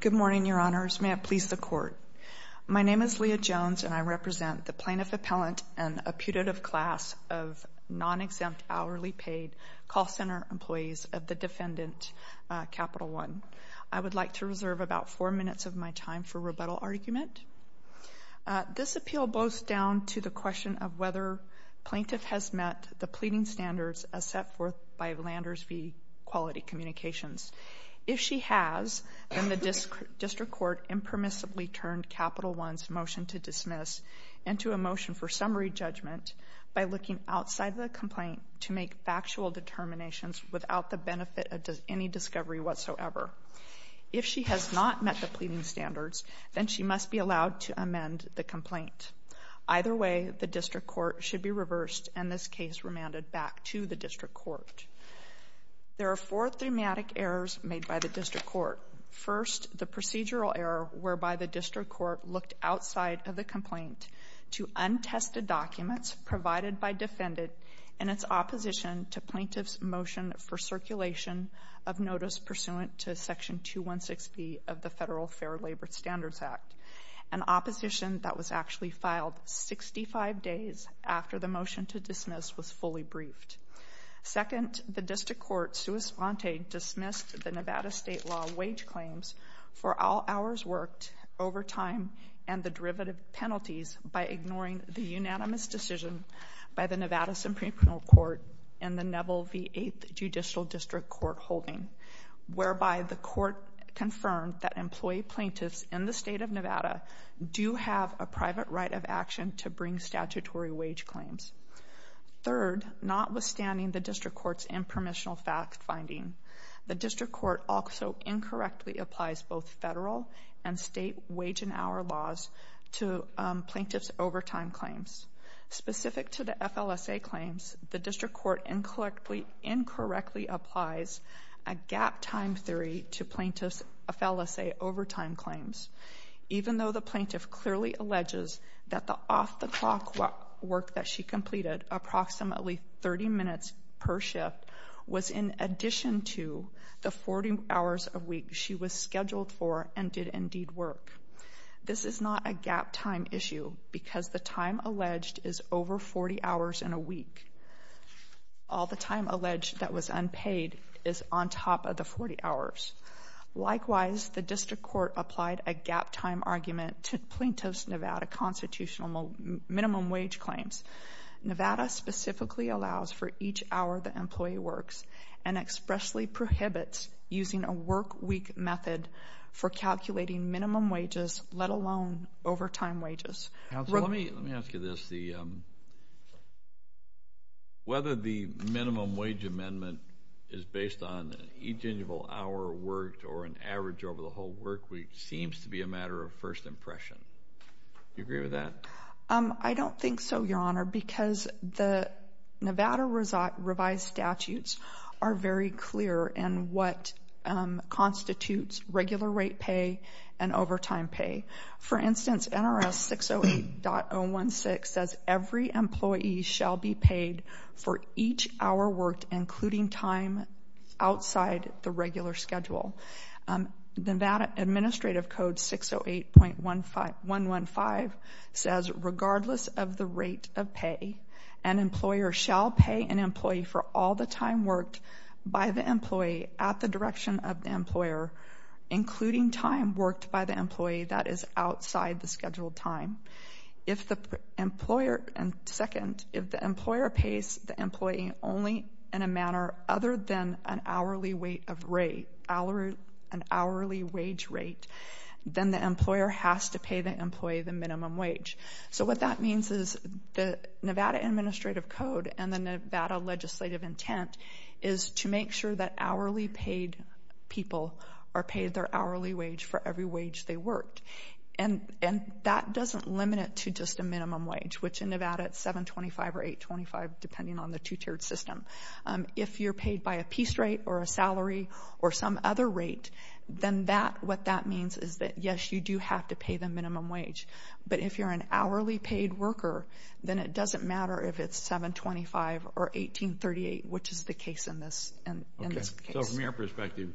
Good morning, Your Honors. May it please the Court. My name is Leah Jones, and I represent the Plaintiff Appellant and a putative class of non-exempt hourly paid call center employees of the defendant Capital One. I would like to reserve about four minutes of my time for rebuttal argument. This appeal boils down to the question of whether plaintiff has met the pleading standards as set forth by Landers v. Quality Communications. If she has, then the district court impermissibly turned Capital One's motion to dismiss into a motion for summary judgment by looking outside of the complaint to make factual determinations without the benefit of any discovery whatsoever. If she has not met the pleading standards, then she must be allowed to amend the complaint. Either way, the district court should be reversed and this case remanded back to the district court. There are four thematic errors made by the district court. First, the procedural error whereby the district court looked outside of the complaint to untested documents provided by defendant in its opposition to plaintiff's motion for circulation of notice pursuant to Section 216B of the Federal Fair Labor Standards Act, an opposition that was actually filed 65 days after the motion to dismiss was fully briefed. Second, the district court sua sponte dismissed the Nevada state law wage claims for all hours worked, overtime, and the derivative penalties by ignoring the unanimous decision by the Nevada Supreme Court in the Neville v. 8th Judicial District Court holding, whereby the court confirmed that employee plaintiffs in the state of Nevada do have a private right of action to bring statutory wage claims. Third, notwithstanding the district court's impermissional fact finding, the district court also incorrectly applies both federal and state wage and hour laws to plaintiff's overtime claims. Specific to the FLSA claims, the district court incorrectly applies a gap time theory to plaintiff's FLSA overtime claims, even though the plaintiff clearly alleges that the off-the-clock work that she completed, approximately 30 minutes per shift, was in addition to the 40 hours a week she was scheduled for and did indeed work. This is not a gap time issue because the time alleged is over 40 hours in a week. All the time alleged that was unpaid is on top of the 40 hours. Likewise, the district court applied a gap time argument to plaintiff's Nevada constitutional minimum wage claims. Nevada specifically allows for each hour the employee works and expressly prohibits using a work week method for calculating minimum wages, let alone overtime wages. Counsel, let me ask you this. Whether the minimum wage amendment is based on each annual hour worked or an average over the whole work week seems to be a matter of first impression. Do you agree with that? I don't think so, Your Honor, because the Nevada revised statutes are very clear in what constitutes regular rate pay and overtime pay. For instance, NRS 608.016 says every employee shall be paid for each hour worked, including time outside the regular schedule. Nevada Administrative Code 608.115 says regardless of the rate of pay, an employer shall pay an employee for all the time worked by the employee at the direction of the employer, including time worked by the employee. That is outside the scheduled time. If the employer pays the employee only in a manner other than an hourly wage rate, then the employer has to pay the employee the minimum wage. So what that means is the Nevada Administrative Code and the Nevada legislative intent is to make sure that hourly paid people are paid their hourly wage for every wage they worked. And that doesn't limit it to just a minimum wage, which in Nevada it's $7.25 or $8.25 depending on the two-tiered system. If you're paid by a piece rate or a salary or some other rate, then what that means is that, yes, you do have to pay the minimum wage. But if you're an hourly paid worker, then it doesn't matter if it's $7.25 or $18.38, which is the case in this case. So from your perspective,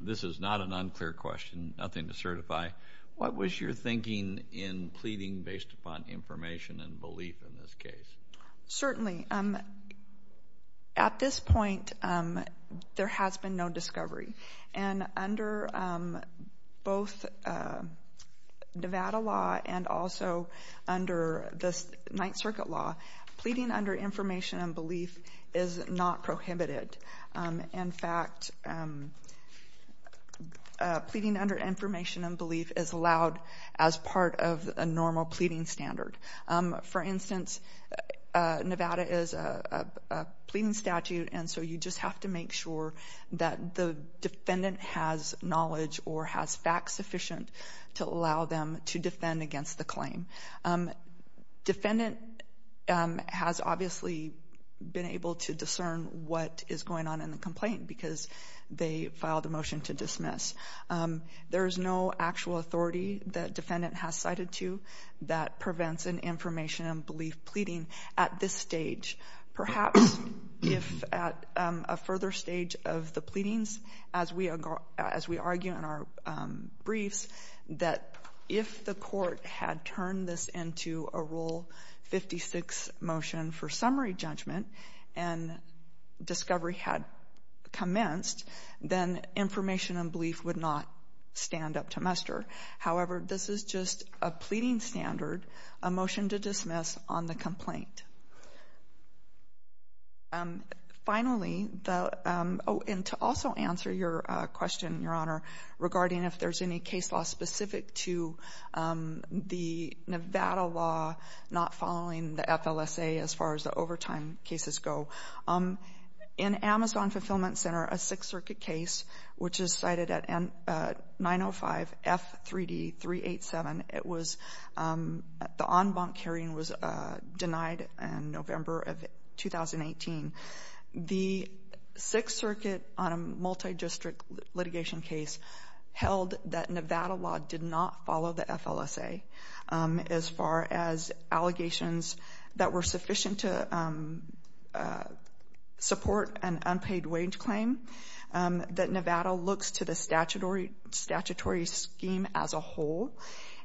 this is not an unclear question, nothing to certify. What was your thinking in pleading based upon information and belief in this case? Certainly. At this point, there has been no discovery. And under both Nevada law and also under the Ninth Circuit law, pleading under information and belief is not prohibited. In fact, pleading under information and belief is allowed as part of a normal pleading standard. For instance, Nevada is a pleading statute, and so you just have to make sure that the defendant has knowledge or has facts sufficient to allow them to defend against the claim. Defendant has obviously been able to discern what is going on in the complaint because they filed a motion to dismiss. There is no actual authority that defendant has cited to that prevents an information and belief pleading at this stage. Perhaps if at a further stage of the pleadings, as we argue in our briefs, that if the court had turned this into a Rule 56 motion for summary judgment and discovery had commenced, then information and belief would not stand up to muster. However, this is just a pleading standard, a motion to dismiss on the complaint. Finally, and to also answer your question, Your Honor, regarding if there is any case law specific to the Nevada law not following the FLSA as far as the overtime cases go. In Amazon Fulfillment Center, a Sixth Circuit case, which is cited at 905-F3D-387, the en banc hearing was denied in November of 2018. The Sixth Circuit on a multi-district litigation case held that Nevada law did not follow the FLSA as far as allegations that were sufficient to support an unpaid wage claim, that Nevada looks to the statutory scheme as a whole,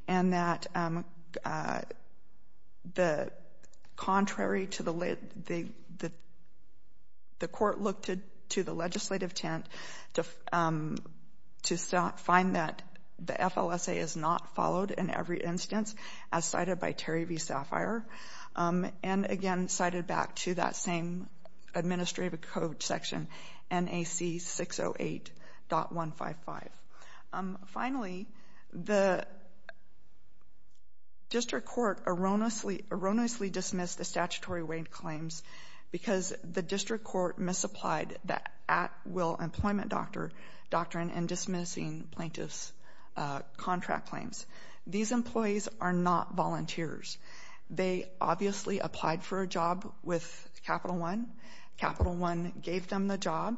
and that the court looked to the legislative tent to find that the FLSA is not followed in every instance, as cited by Terry v. Sapphire, and again cited back to that same administrative code section, NAC 608.155. Finally, the district court erroneously dismissed the statutory wage claims because the district court misapplied the at-will employment doctrine in dismissing plaintiff's contract claims. These employees are not volunteers. They obviously applied for a job with Capital One. Capital One gave them the job.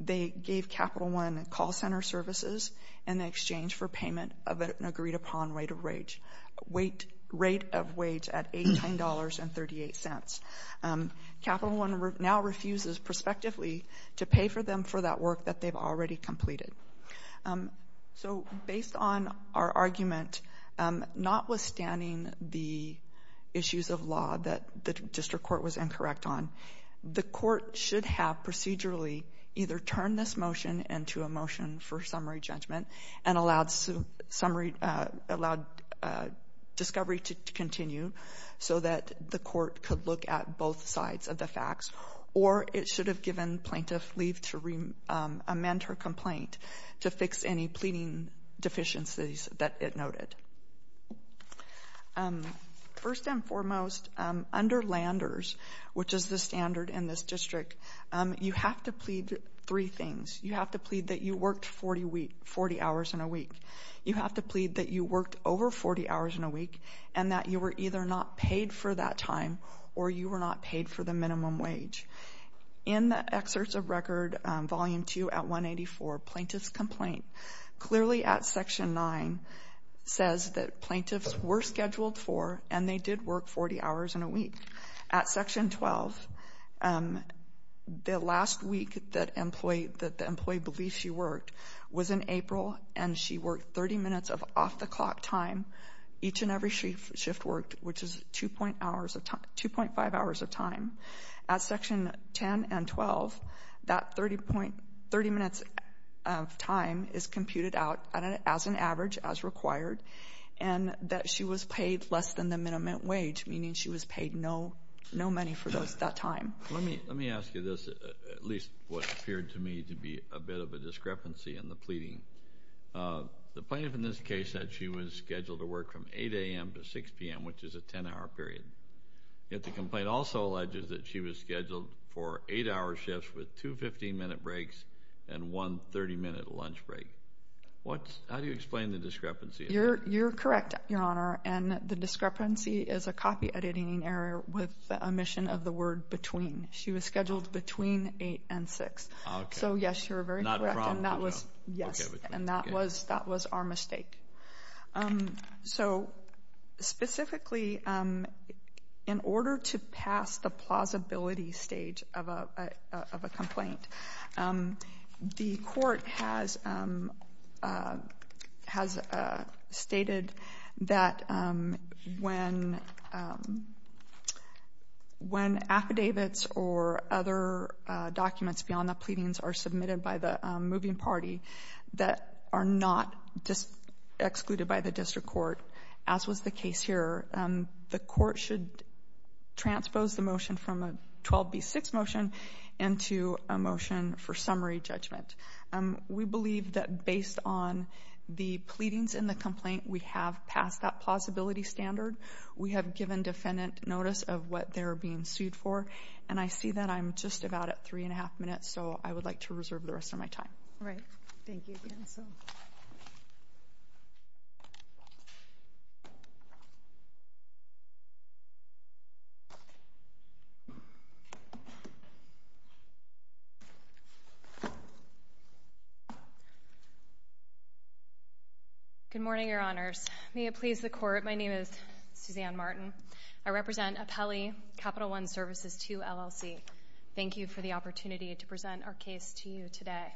They gave Capital One call center services in exchange for payment of an agreed-upon rate of wage at $18.38. Capital One now refuses, prospectively, to pay for them for that work that they've already completed. So based on our argument, notwithstanding the issues of law that the district court was incorrect on, the court should have procedurally either turned this motion into a motion for summary judgment and allowed discovery to continue so that the court could look at both sides of the facts, or it should have given plaintiff leave to amend her complaint to fix any pleading deficiencies that it noted. First and foremost, under Landers, which is the standard in this district, you have to plead three things. You have to plead that you worked 40 hours in a week. You have to plead that you worked over 40 hours in a week and that you were either not paid for that time or you were not paid for the minimum wage. In the excerpts of record, Volume 2 at 184, Plaintiff's Complaint, clearly at Section 9 says that plaintiffs were scheduled for and they did work 40 hours in a week. At Section 12, the last week that the employee believed she worked was in April, and she worked 30 minutes of off-the-clock time. Each and every shift worked, which is 2.5 hours of time. At Section 10 and 12, that 30 minutes of time is computed out as an average, as required, and that she was paid less than the minimum wage, meaning she was paid no money for that time. Let me ask you this, at least what appeared to me to be a bit of a discrepancy in the pleading. The plaintiff in this case said she was scheduled to work from 8 a.m. to 6 p.m., which is a 10-hour period. Yet the complaint also alleges that she was scheduled for 8-hour shifts with two 15-minute breaks and one 30-minute lunch break. How do you explain the discrepancy? You're correct, Your Honor, and the discrepancy is a copyediting error with omission of the word between. She was scheduled between 8 and 6. So, yes, you're very correct, and that was our mistake. So, specifically, in order to pass the plausibility stage of a complaint, the court has stated that when affidavits or other documents beyond the pleadings are submitted by the moving party that are not excluded by the district court, as was the case here, the court should transpose the motion from a 12B6 motion into a motion for summary judgment. We believe that based on the pleadings in the complaint, we have passed that plausibility standard. We have given defendant notice of what they're being sued for, and I see that I'm just about at three and a half minutes, so I would like to reserve the rest of my time. All right. Thank you again. Good morning, Your Honors. May it please the Court, my name is Suzanne Martin. I represent Apelli Capital One Services II, LLC. Thank you for the opportunity to present our case to you today.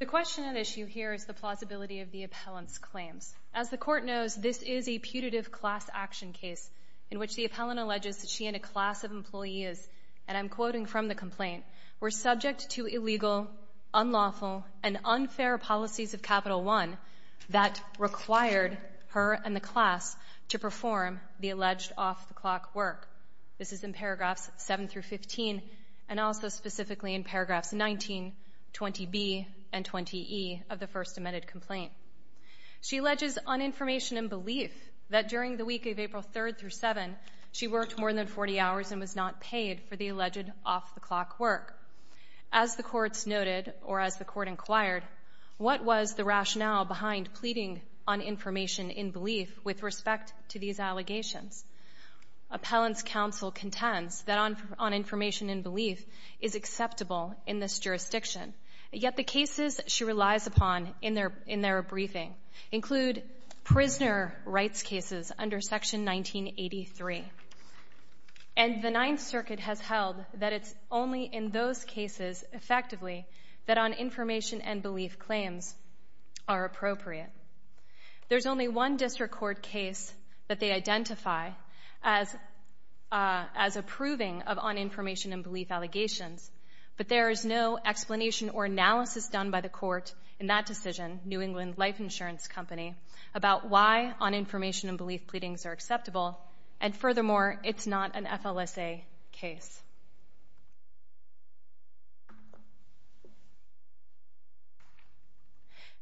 The question at issue here is the plausibility of the appellant's claims. As the Court knows, this is a putative class action case in which the appellant alleges that she and a class of employees, and I'm quoting from the complaint, were subject to illegal, unlawful, and unfair policies of Capital One that required her and the class to perform the alleged off-the-clock work. This is in paragraphs 7 through 15, and also specifically in paragraphs 19, 20B, and 20E of the first amended complaint. She alleges uninformation and belief that during the week of April 3rd through 7, she worked more than 40 hours and was not paid for the alleged off-the-clock work. As the courts noted, or as the Court inquired, what was the rationale behind pleading on information and belief with respect to these allegations? Appellant's counsel contends that on information and belief is acceptable in this jurisdiction, yet the cases she relies upon in their briefing include prisoner rights cases under Section 1983. And the Ninth Circuit has held that it's only in those cases, effectively, that on information and belief claims are appropriate. There's only one district court case that they identify as approving of uninformation and belief allegations, but there is no explanation or analysis done by the court in that decision, New England Life Insurance Company, about why uninformation and belief pleadings are acceptable, and furthermore, it's not an FLSA case.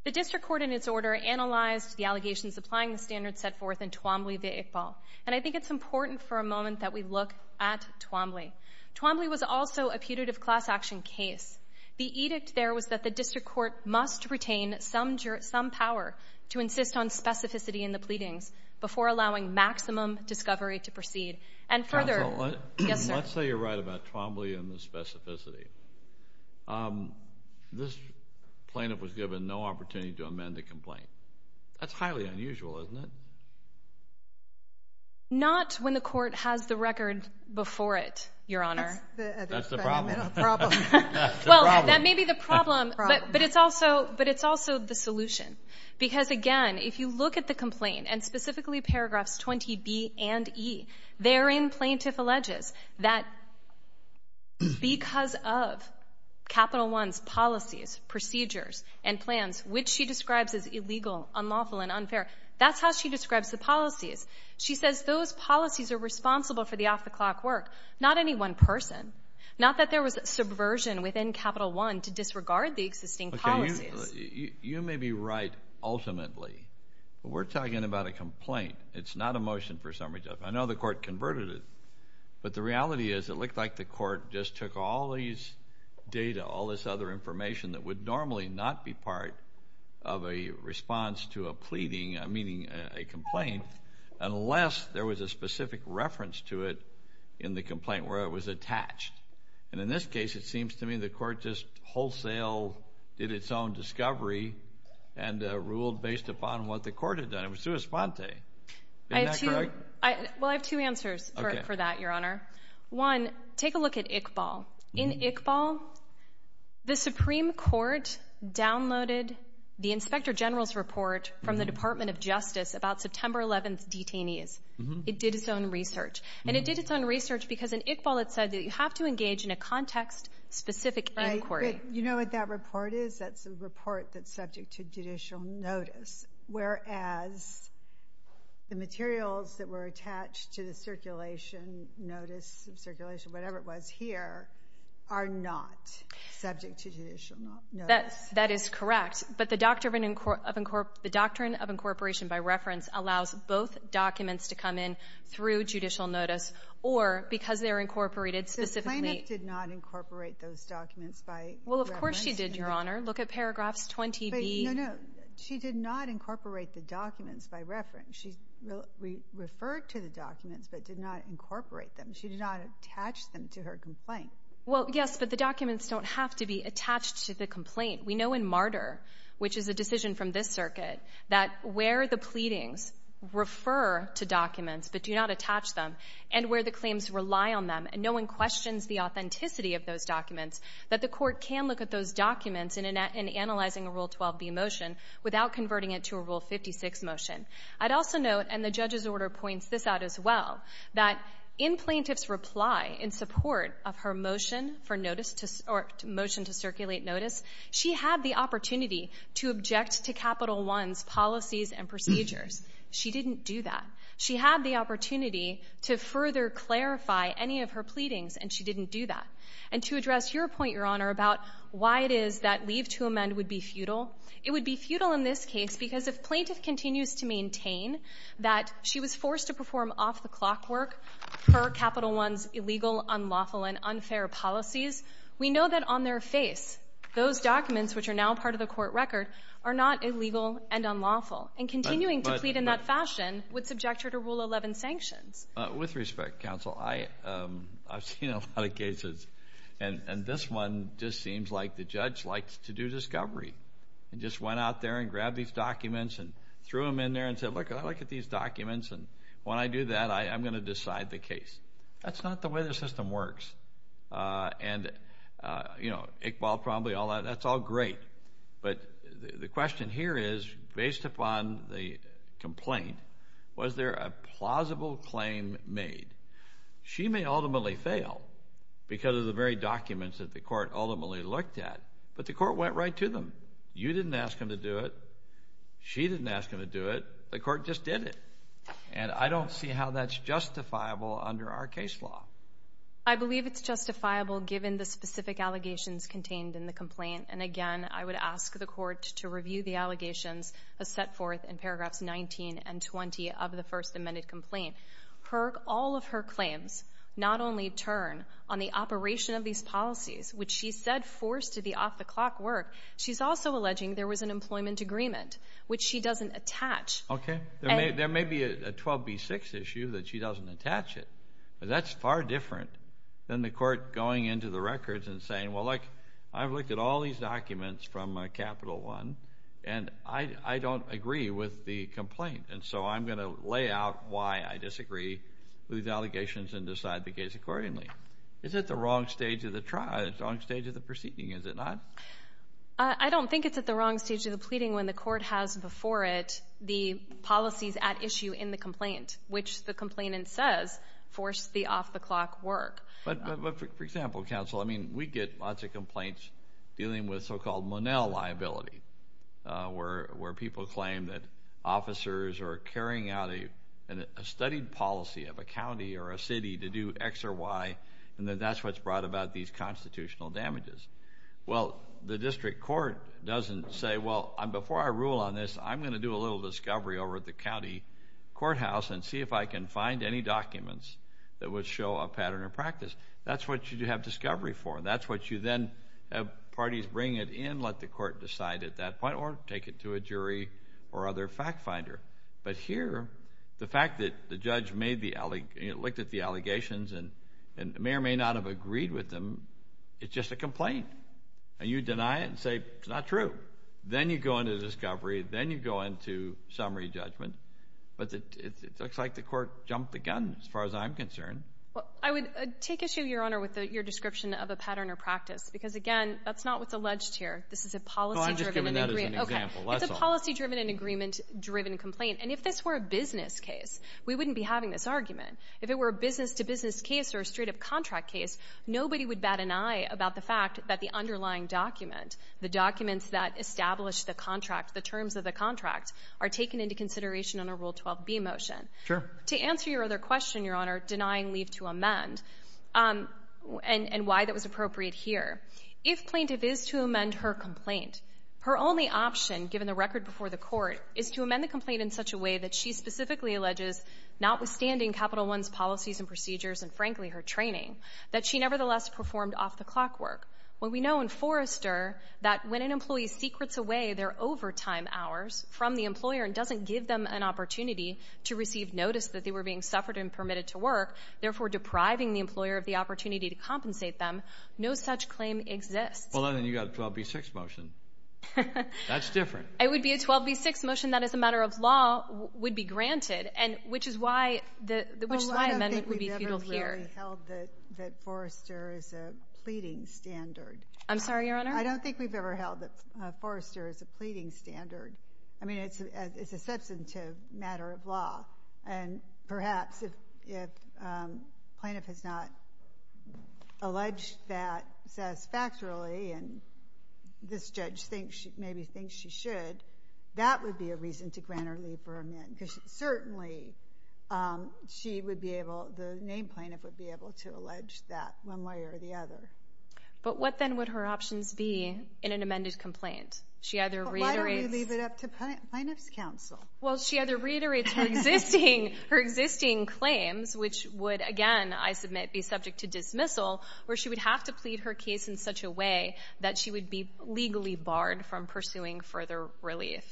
The district court, in its order, analyzed the allegations applying the standards set forth in Twombly v. Iqbal, and I think it's important for a moment that we look at Twombly. Twombly was also a putative class action case. The edict there was that the district court must retain some power to insist on specificity in the pleadings before allowing maximum discovery to proceed. Counsel, let's say you're right about Twombly and the specificity. This plaintiff was given no opportunity to amend the complaint. That's highly unusual, isn't it? Not when the court has the record before it, Your Honor. That's the problem. Well, that may be the problem, but it's also the solution. Because, again, if you look at the complaint, and specifically paragraphs 20B and E, therein plaintiff alleges that because of Capital One's policies, procedures, and plans, which she describes as illegal, unlawful, and unfair, that's how she describes the policies. She says those policies are responsible for the off-the-clock work. Not any one person. Not that there was subversion within Capital One to disregard the existing policies. You may be right ultimately, but we're talking about a complaint. It's not a motion for summary judgment. I know the court converted it, but the reality is it looked like the court just took all these data, all this other information that would normally not be part of a response to a pleading, meaning a complaint, unless there was a specific reference to it in the complaint where it was attached. And in this case, it seems to me the court just wholesale did its own discovery and ruled based upon what the court had done. It was sua sponte. Isn't that correct? Well, I have two answers for that, Your Honor. One, take a look at Iqbal. In Iqbal, the Supreme Court downloaded the Inspector General's report from the Department of Justice about September 11th detainees. It did its own research. And it did its own research because in Iqbal it said that you have to engage in a context-specific inquiry. Right, but you know what that report is? That's a report that's subject to judicial notice. Whereas the materials that were attached to the circulation, notice of circulation, whatever it was here, are not subject to judicial notice. That is correct. But the doctrine of incorporation by reference allows both documents to come in through judicial notice or because they're incorporated specifically. The plaintiff did not incorporate those documents by reference. Well, of course she did, Your Honor. Look at paragraphs 20B. No, no. She did not incorporate the documents by reference. She referred to the documents but did not incorporate them. She did not attach them to her complaint. Well, yes, but the documents don't have to be attached to the complaint. We know in Martyr, which is a decision from this circuit, that where the pleadings refer to documents but do not attach them and where the claims rely on them and no one questions the authenticity of those documents, that the court can look at those documents in analyzing a Rule 12B motion without converting it to a Rule 56 motion. I'd also note, and the judge's order points this out as well, that in plaintiff's reply in support of her motion to circulate notice, she had the opportunity to object to Capital I's policies and procedures. She didn't do that. She had the opportunity to further clarify any of her pleadings, and she didn't do that. And to address your point, Your Honor, about why it is that leave to amend would be futile, it would be futile in this case because if plaintiff continues to maintain that she was forced to perform off-the-clock work per Capital I's illegal, unlawful, and unfair policies, we know that on their face those documents, which are now part of the court record, are not illegal and unlawful. And continuing to plead in that fashion would subject her to Rule 11 sanctions. With respect, counsel, I've seen a lot of cases, and this one just seems like the judge likes to do discovery and just went out there and grabbed these documents and threw them in there and said, Look, I look at these documents, and when I do that, I'm going to decide the case. That's not the way the system works. And, you know, Iqbal probably, all that, that's all great. But the question here is, based upon the complaint, was there a plausible claim made? She may ultimately fail because of the very documents that the court ultimately looked at, but the court went right to them. You didn't ask them to do it. She didn't ask them to do it. The court just did it. And I don't see how that's justifiable under our case law. I believe it's justifiable given the specific allegations contained in the complaint. And, again, I would ask the court to review the allegations set forth in paragraphs 19 and 20 of the first amended complaint. All of her claims not only turn on the operation of these policies, which she said forced the off-the-clock work, she's also alleging there was an employment agreement, which she doesn't attach. Okay. There may be a 12B6 issue that she doesn't attach it, but that's far different than the court going into the records and saying, well, look, I've looked at all these documents from Capital One, and I don't agree with the complaint, and so I'm going to lay out why I disagree with these allegations and decide the case accordingly. Is it the wrong stage of the proceeding? Is it not? I don't think it's at the wrong stage of the pleading when the court has before it the policies at issue in the complaint, which the complainant says forced the off-the-clock work. But, for example, counsel, I mean, we get lots of complaints dealing with so-called Monell liability, where people claim that officers are carrying out a studied policy of a county or a city to do X or Y, and that that's what's brought about these constitutional damages. Well, the district court doesn't say, well, before I rule on this, I'm going to do a little discovery over at the county courthouse and see if I can find any documents that would show a pattern of practice. That's what you have discovery for. That's what you then have parties bring it in, let the court decide at that point, or take it to a jury or other fact finder. But here, the fact that the judge looked at the allegations and may or may not have agreed with them, it's just a complaint, and you deny it and say it's not true. Then you go into discovery. Then you go into summary judgment. But it looks like the court jumped the gun as far as I'm concerned. I would take issue, Your Honor, with your description of a pattern or practice, because, again, that's not what's alleged here. This is a policy-driven and agreement-driven complaint. And if this were a business case, we wouldn't be having this argument. If it were a business-to-business case or a straight-up contract case, nobody would bat an eye about the fact that the underlying document, the documents that establish the contract, the terms of the contract, are taken into consideration under Rule 12b motion. To answer your other question, Your Honor, denying leave to amend and why that was appropriate here, if plaintiff is to amend her complaint, her only option, given the record before the Court, is to amend the complaint in such a way that she specifically alleges, notwithstanding Capital I's policies and procedures and, frankly, her training, that she nevertheless performed off-the-clock work. We know in Forrester that when an employee secrets away their overtime hours from the employer and doesn't give them an opportunity to receive notice that they were being suffered and permitted to work, therefore depriving the employer of the opportunity to compensate them, no such claim exists. Well, then you've got a 12b-6 motion. That's different. It would be a 12b-6 motion that, as a matter of law, would be granted, which is why amendment would be futile here. I don't think we've ever held that Forrester is a pleading standard. I'm sorry, Your Honor? I don't think we've ever held that Forrester is a pleading standard. I mean, it's a substantive matter of law, and perhaps if plaintiff has not alleged that satisfactorily and this judge maybe thinks she should, that would be a reason to grant her leave for amendment. Certainly, the named plaintiff would be able to allege that one way or the other. But what then would her options be in an amended complaint? Why don't we leave it up to plaintiff's counsel? Well, she either reiterates her existing claims, which would, again, I submit, be subject to dismissal, or she would have to plead her case in such a way that she would be legally barred from pursuing further relief.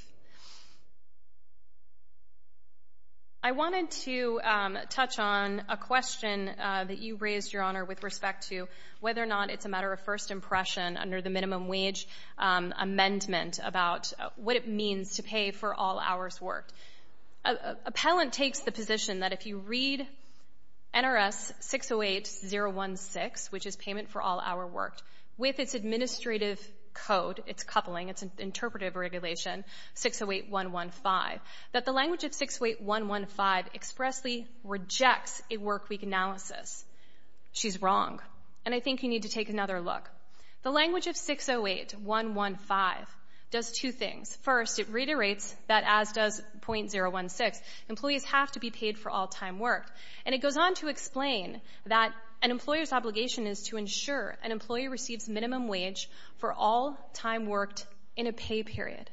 I wanted to touch on a question that you raised, Your Honor, with respect to whether or not it's a matter of first impression under the minimum wage amendment about what it means to pay for all hours worked. Appellant takes the position that if you read NRS 608016, which is payment for all hour worked, with its administrative code, its coupling, its interpretive regulation, 608.115, that the language of 608.115 expressly rejects a workweek analysis. She's wrong. And I think you need to take another look. The language of 608.115 does two things. First, it reiterates that, as does NRS 608016, employees have to be paid for all time worked. And it goes on to explain that an employer's obligation is to ensure an employee receives minimum wage for all time worked in a pay period.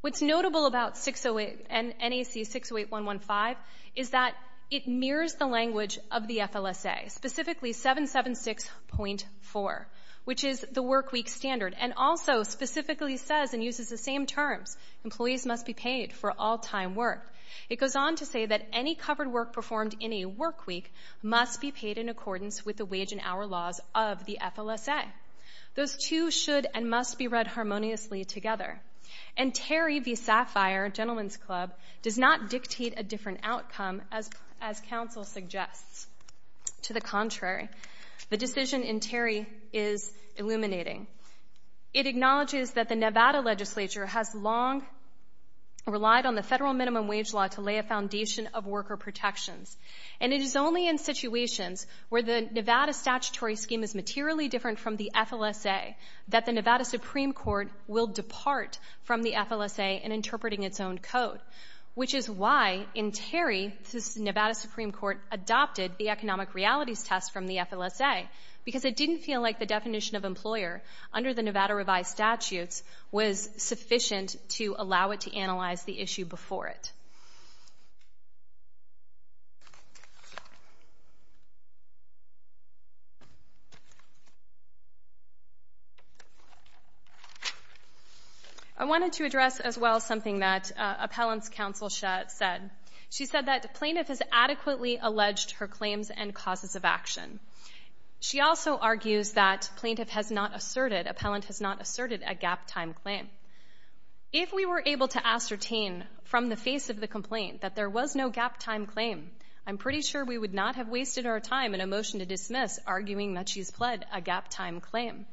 What's notable about NAC 608.115 is that it mirrors the language of the FLSA, specifically 776.4, which is the workweek standard, and also specifically says and uses the same terms, employees must be paid for all time worked. It goes on to say that any covered work performed in a workweek must be paid in accordance with the wage and hour laws of the FLSA. Those two should and must be read harmoniously together. And Terry v. Sapphire, Gentleman's Club, does not dictate a different outcome, as counsel suggests. To the contrary, the decision in Terry is illuminating. It acknowledges that the Nevada legislature has long relied on the federal minimum wage law to lay a foundation of worker protections, and it is only in situations where the Nevada statutory scheme is materially different from the FLSA that the Nevada Supreme Court will depart from the FLSA in interpreting its own code, which is why, in Terry, the Nevada Supreme Court adopted the economic realities test from the FLSA, because it didn't feel like the definition of employer under the Nevada revised statutes was sufficient to allow it to analyze the issue before it. I wanted to address as well something that Appellant's counsel said. She said that plaintiff has adequately alleged her claims and causes of action. She also argues that plaintiff has not asserted, a gap-time claim. If we were able to ascertain from the face of the complaint that there was no gap-time claim, I'm pretty sure we would not have wasted our time in a motion to dismiss arguing that she's pled a gap-time claim.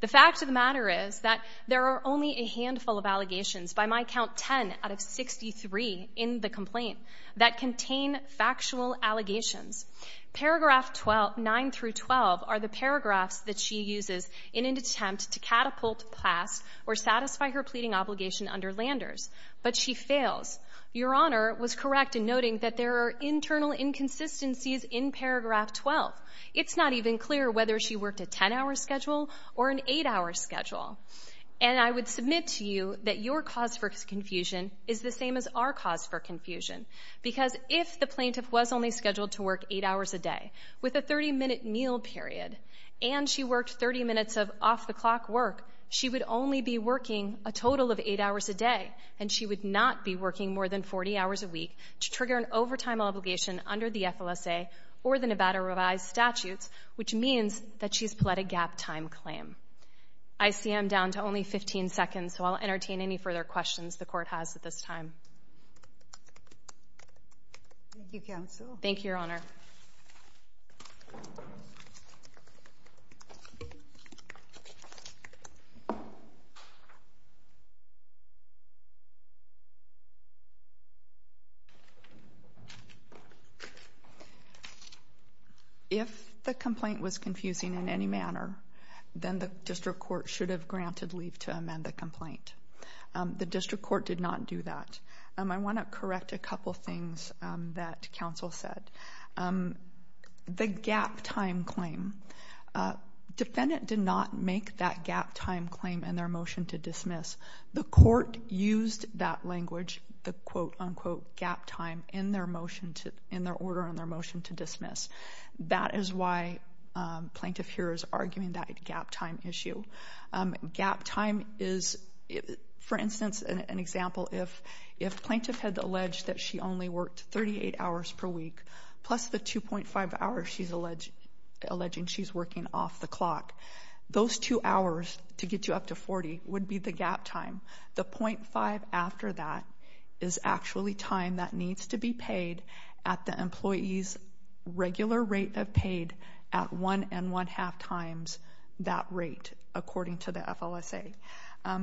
The fact of the matter is that there are only a handful of allegations, by my count 10 out of 63 in the complaint, that contain factual allegations. Paragraph 9 through 12 are the paragraphs that she uses in an attempt to catapult past or satisfy her pleading obligation under Landers, but she fails. Your Honor was correct in noting that there are internal inconsistencies in paragraph 12. It's not even clear whether she worked a 10-hour schedule or an 8-hour schedule. And I would submit to you that your cause for confusion is the same as our cause for confusion, because if the plaintiff was only scheduled to work 8 hours a day with a 30-minute meal period, and she worked 30 minutes of off-the-clock work, she would only be working a total of 8 hours a day, and she would not be working more than 40 hours a week to trigger an overtime obligation under the FLSA or the Nevada revised statutes, which means that she's pled a gap-time claim. I see I'm down to only 15 seconds, so I'll entertain any further questions the court has at this time. Thank you, counsel. Thank you, Your Honor. If the complaint was confusing in any manner, then the district court should have granted leave to amend the complaint. The district court did not do that. I want to correct a couple things that counsel said. The gap-time claim. Defendant did not make that gap-time claim in their motion to dismiss. The court used that language, the quote-unquote gap time, in their order in their motion to dismiss. That is why plaintiff here is arguing that gap-time issue. Gap time is, for instance, an example, if plaintiff had alleged that she only worked 38 hours per week, plus the 2.5 hours she's alleging she's working off-the-clock, those two hours to get you up to 40 would be the gap time. The .5 after that is actually time that needs to be paid at the employee's regular rate of paid at 1.5 times that rate, according to the FLSA. Let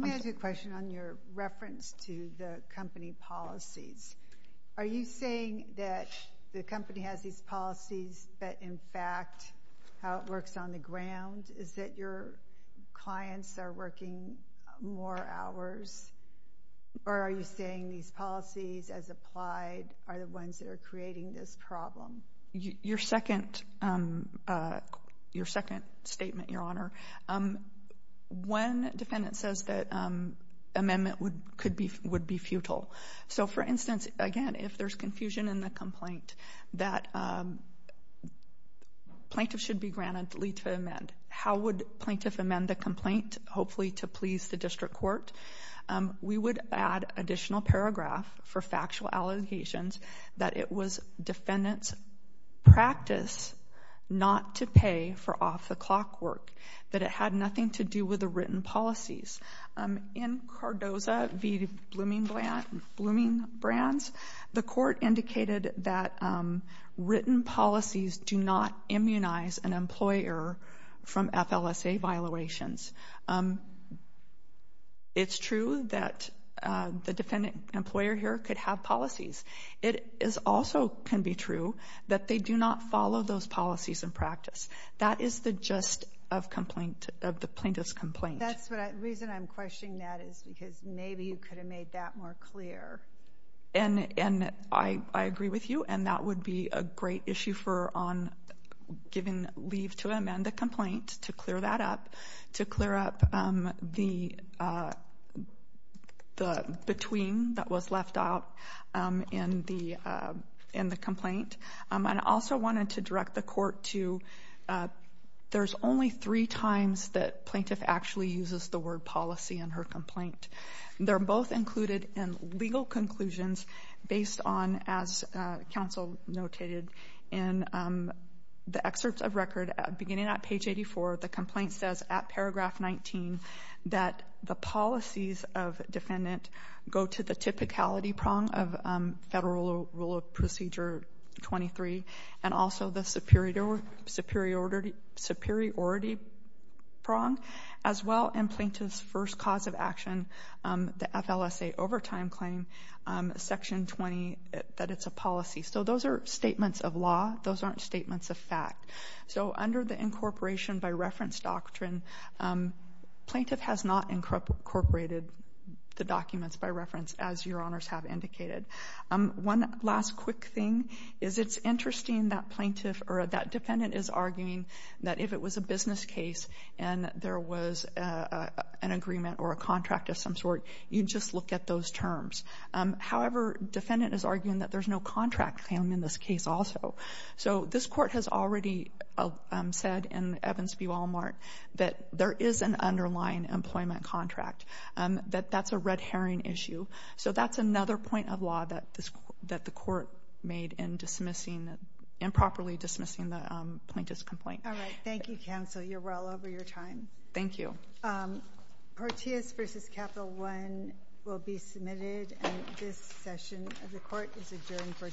me ask you a question on your reference to the company policies. Are you saying that the company has these policies, but, in fact, how it works on the ground is that your clients are working more hours? Or are you saying these policies, as applied, are the ones that are creating this problem? Your second statement, Your Honor, one defendant says that amendment would be futile. So, for instance, again, if there's confusion in the complaint, that plaintiff should be granted leave to amend. How would plaintiff amend the complaint, hopefully to please the district court? We would add additional paragraph for factual allegations that it was defendant's practice not to pay for off-the-clock work, that it had nothing to do with the written policies. In Cardoza v. Blooming Brands, the court indicated that written policies do not immunize an employer from FLSA violations. It's true that the defendant employer here could have policies. It also can be true that they do not follow those policies in practice. That is the gist of the plaintiff's complaint. The reason I'm questioning that is because maybe you could have made that more clear. And I agree with you, and that would be a great issue on giving leave to amend the complaint to clear that up, to clear up the between that was left out in the complaint. I also wanted to direct the court to there's only three times that plaintiff actually uses the word policy in her complaint. They're both included in legal conclusions based on, as counsel notated in the excerpts of record, beginning at page 84, the complaint says at paragraph 19 that the policies of defendant go to the typicality prong of Federal Rule of Procedure 23 and also the superiority prong, as well in plaintiff's first cause of action, the FLSA overtime claim, section 20, that it's a policy. So those are statements of law. Those aren't statements of fact. So under the incorporation by reference doctrine, plaintiff has not incorporated the documents by reference, as your honors have indicated. One last quick thing is it's interesting that plaintiff or that defendant is arguing that if it was a business case and there was an agreement or a contract of some sort, you'd just look at those terms. However, defendant is arguing that there's no contract claim in this case also. So this court has already said in Evans v. Walmart that there is an underlying employment contract, that that's a red herring issue. So that's another point of law that the court made in improperly dismissing the plaintiff's complaint. All right. Thank you, counsel. You're well over your time. Thank you. Proteus v. Capital One will be submitted. And this session of the court is adjourned for today. All rise.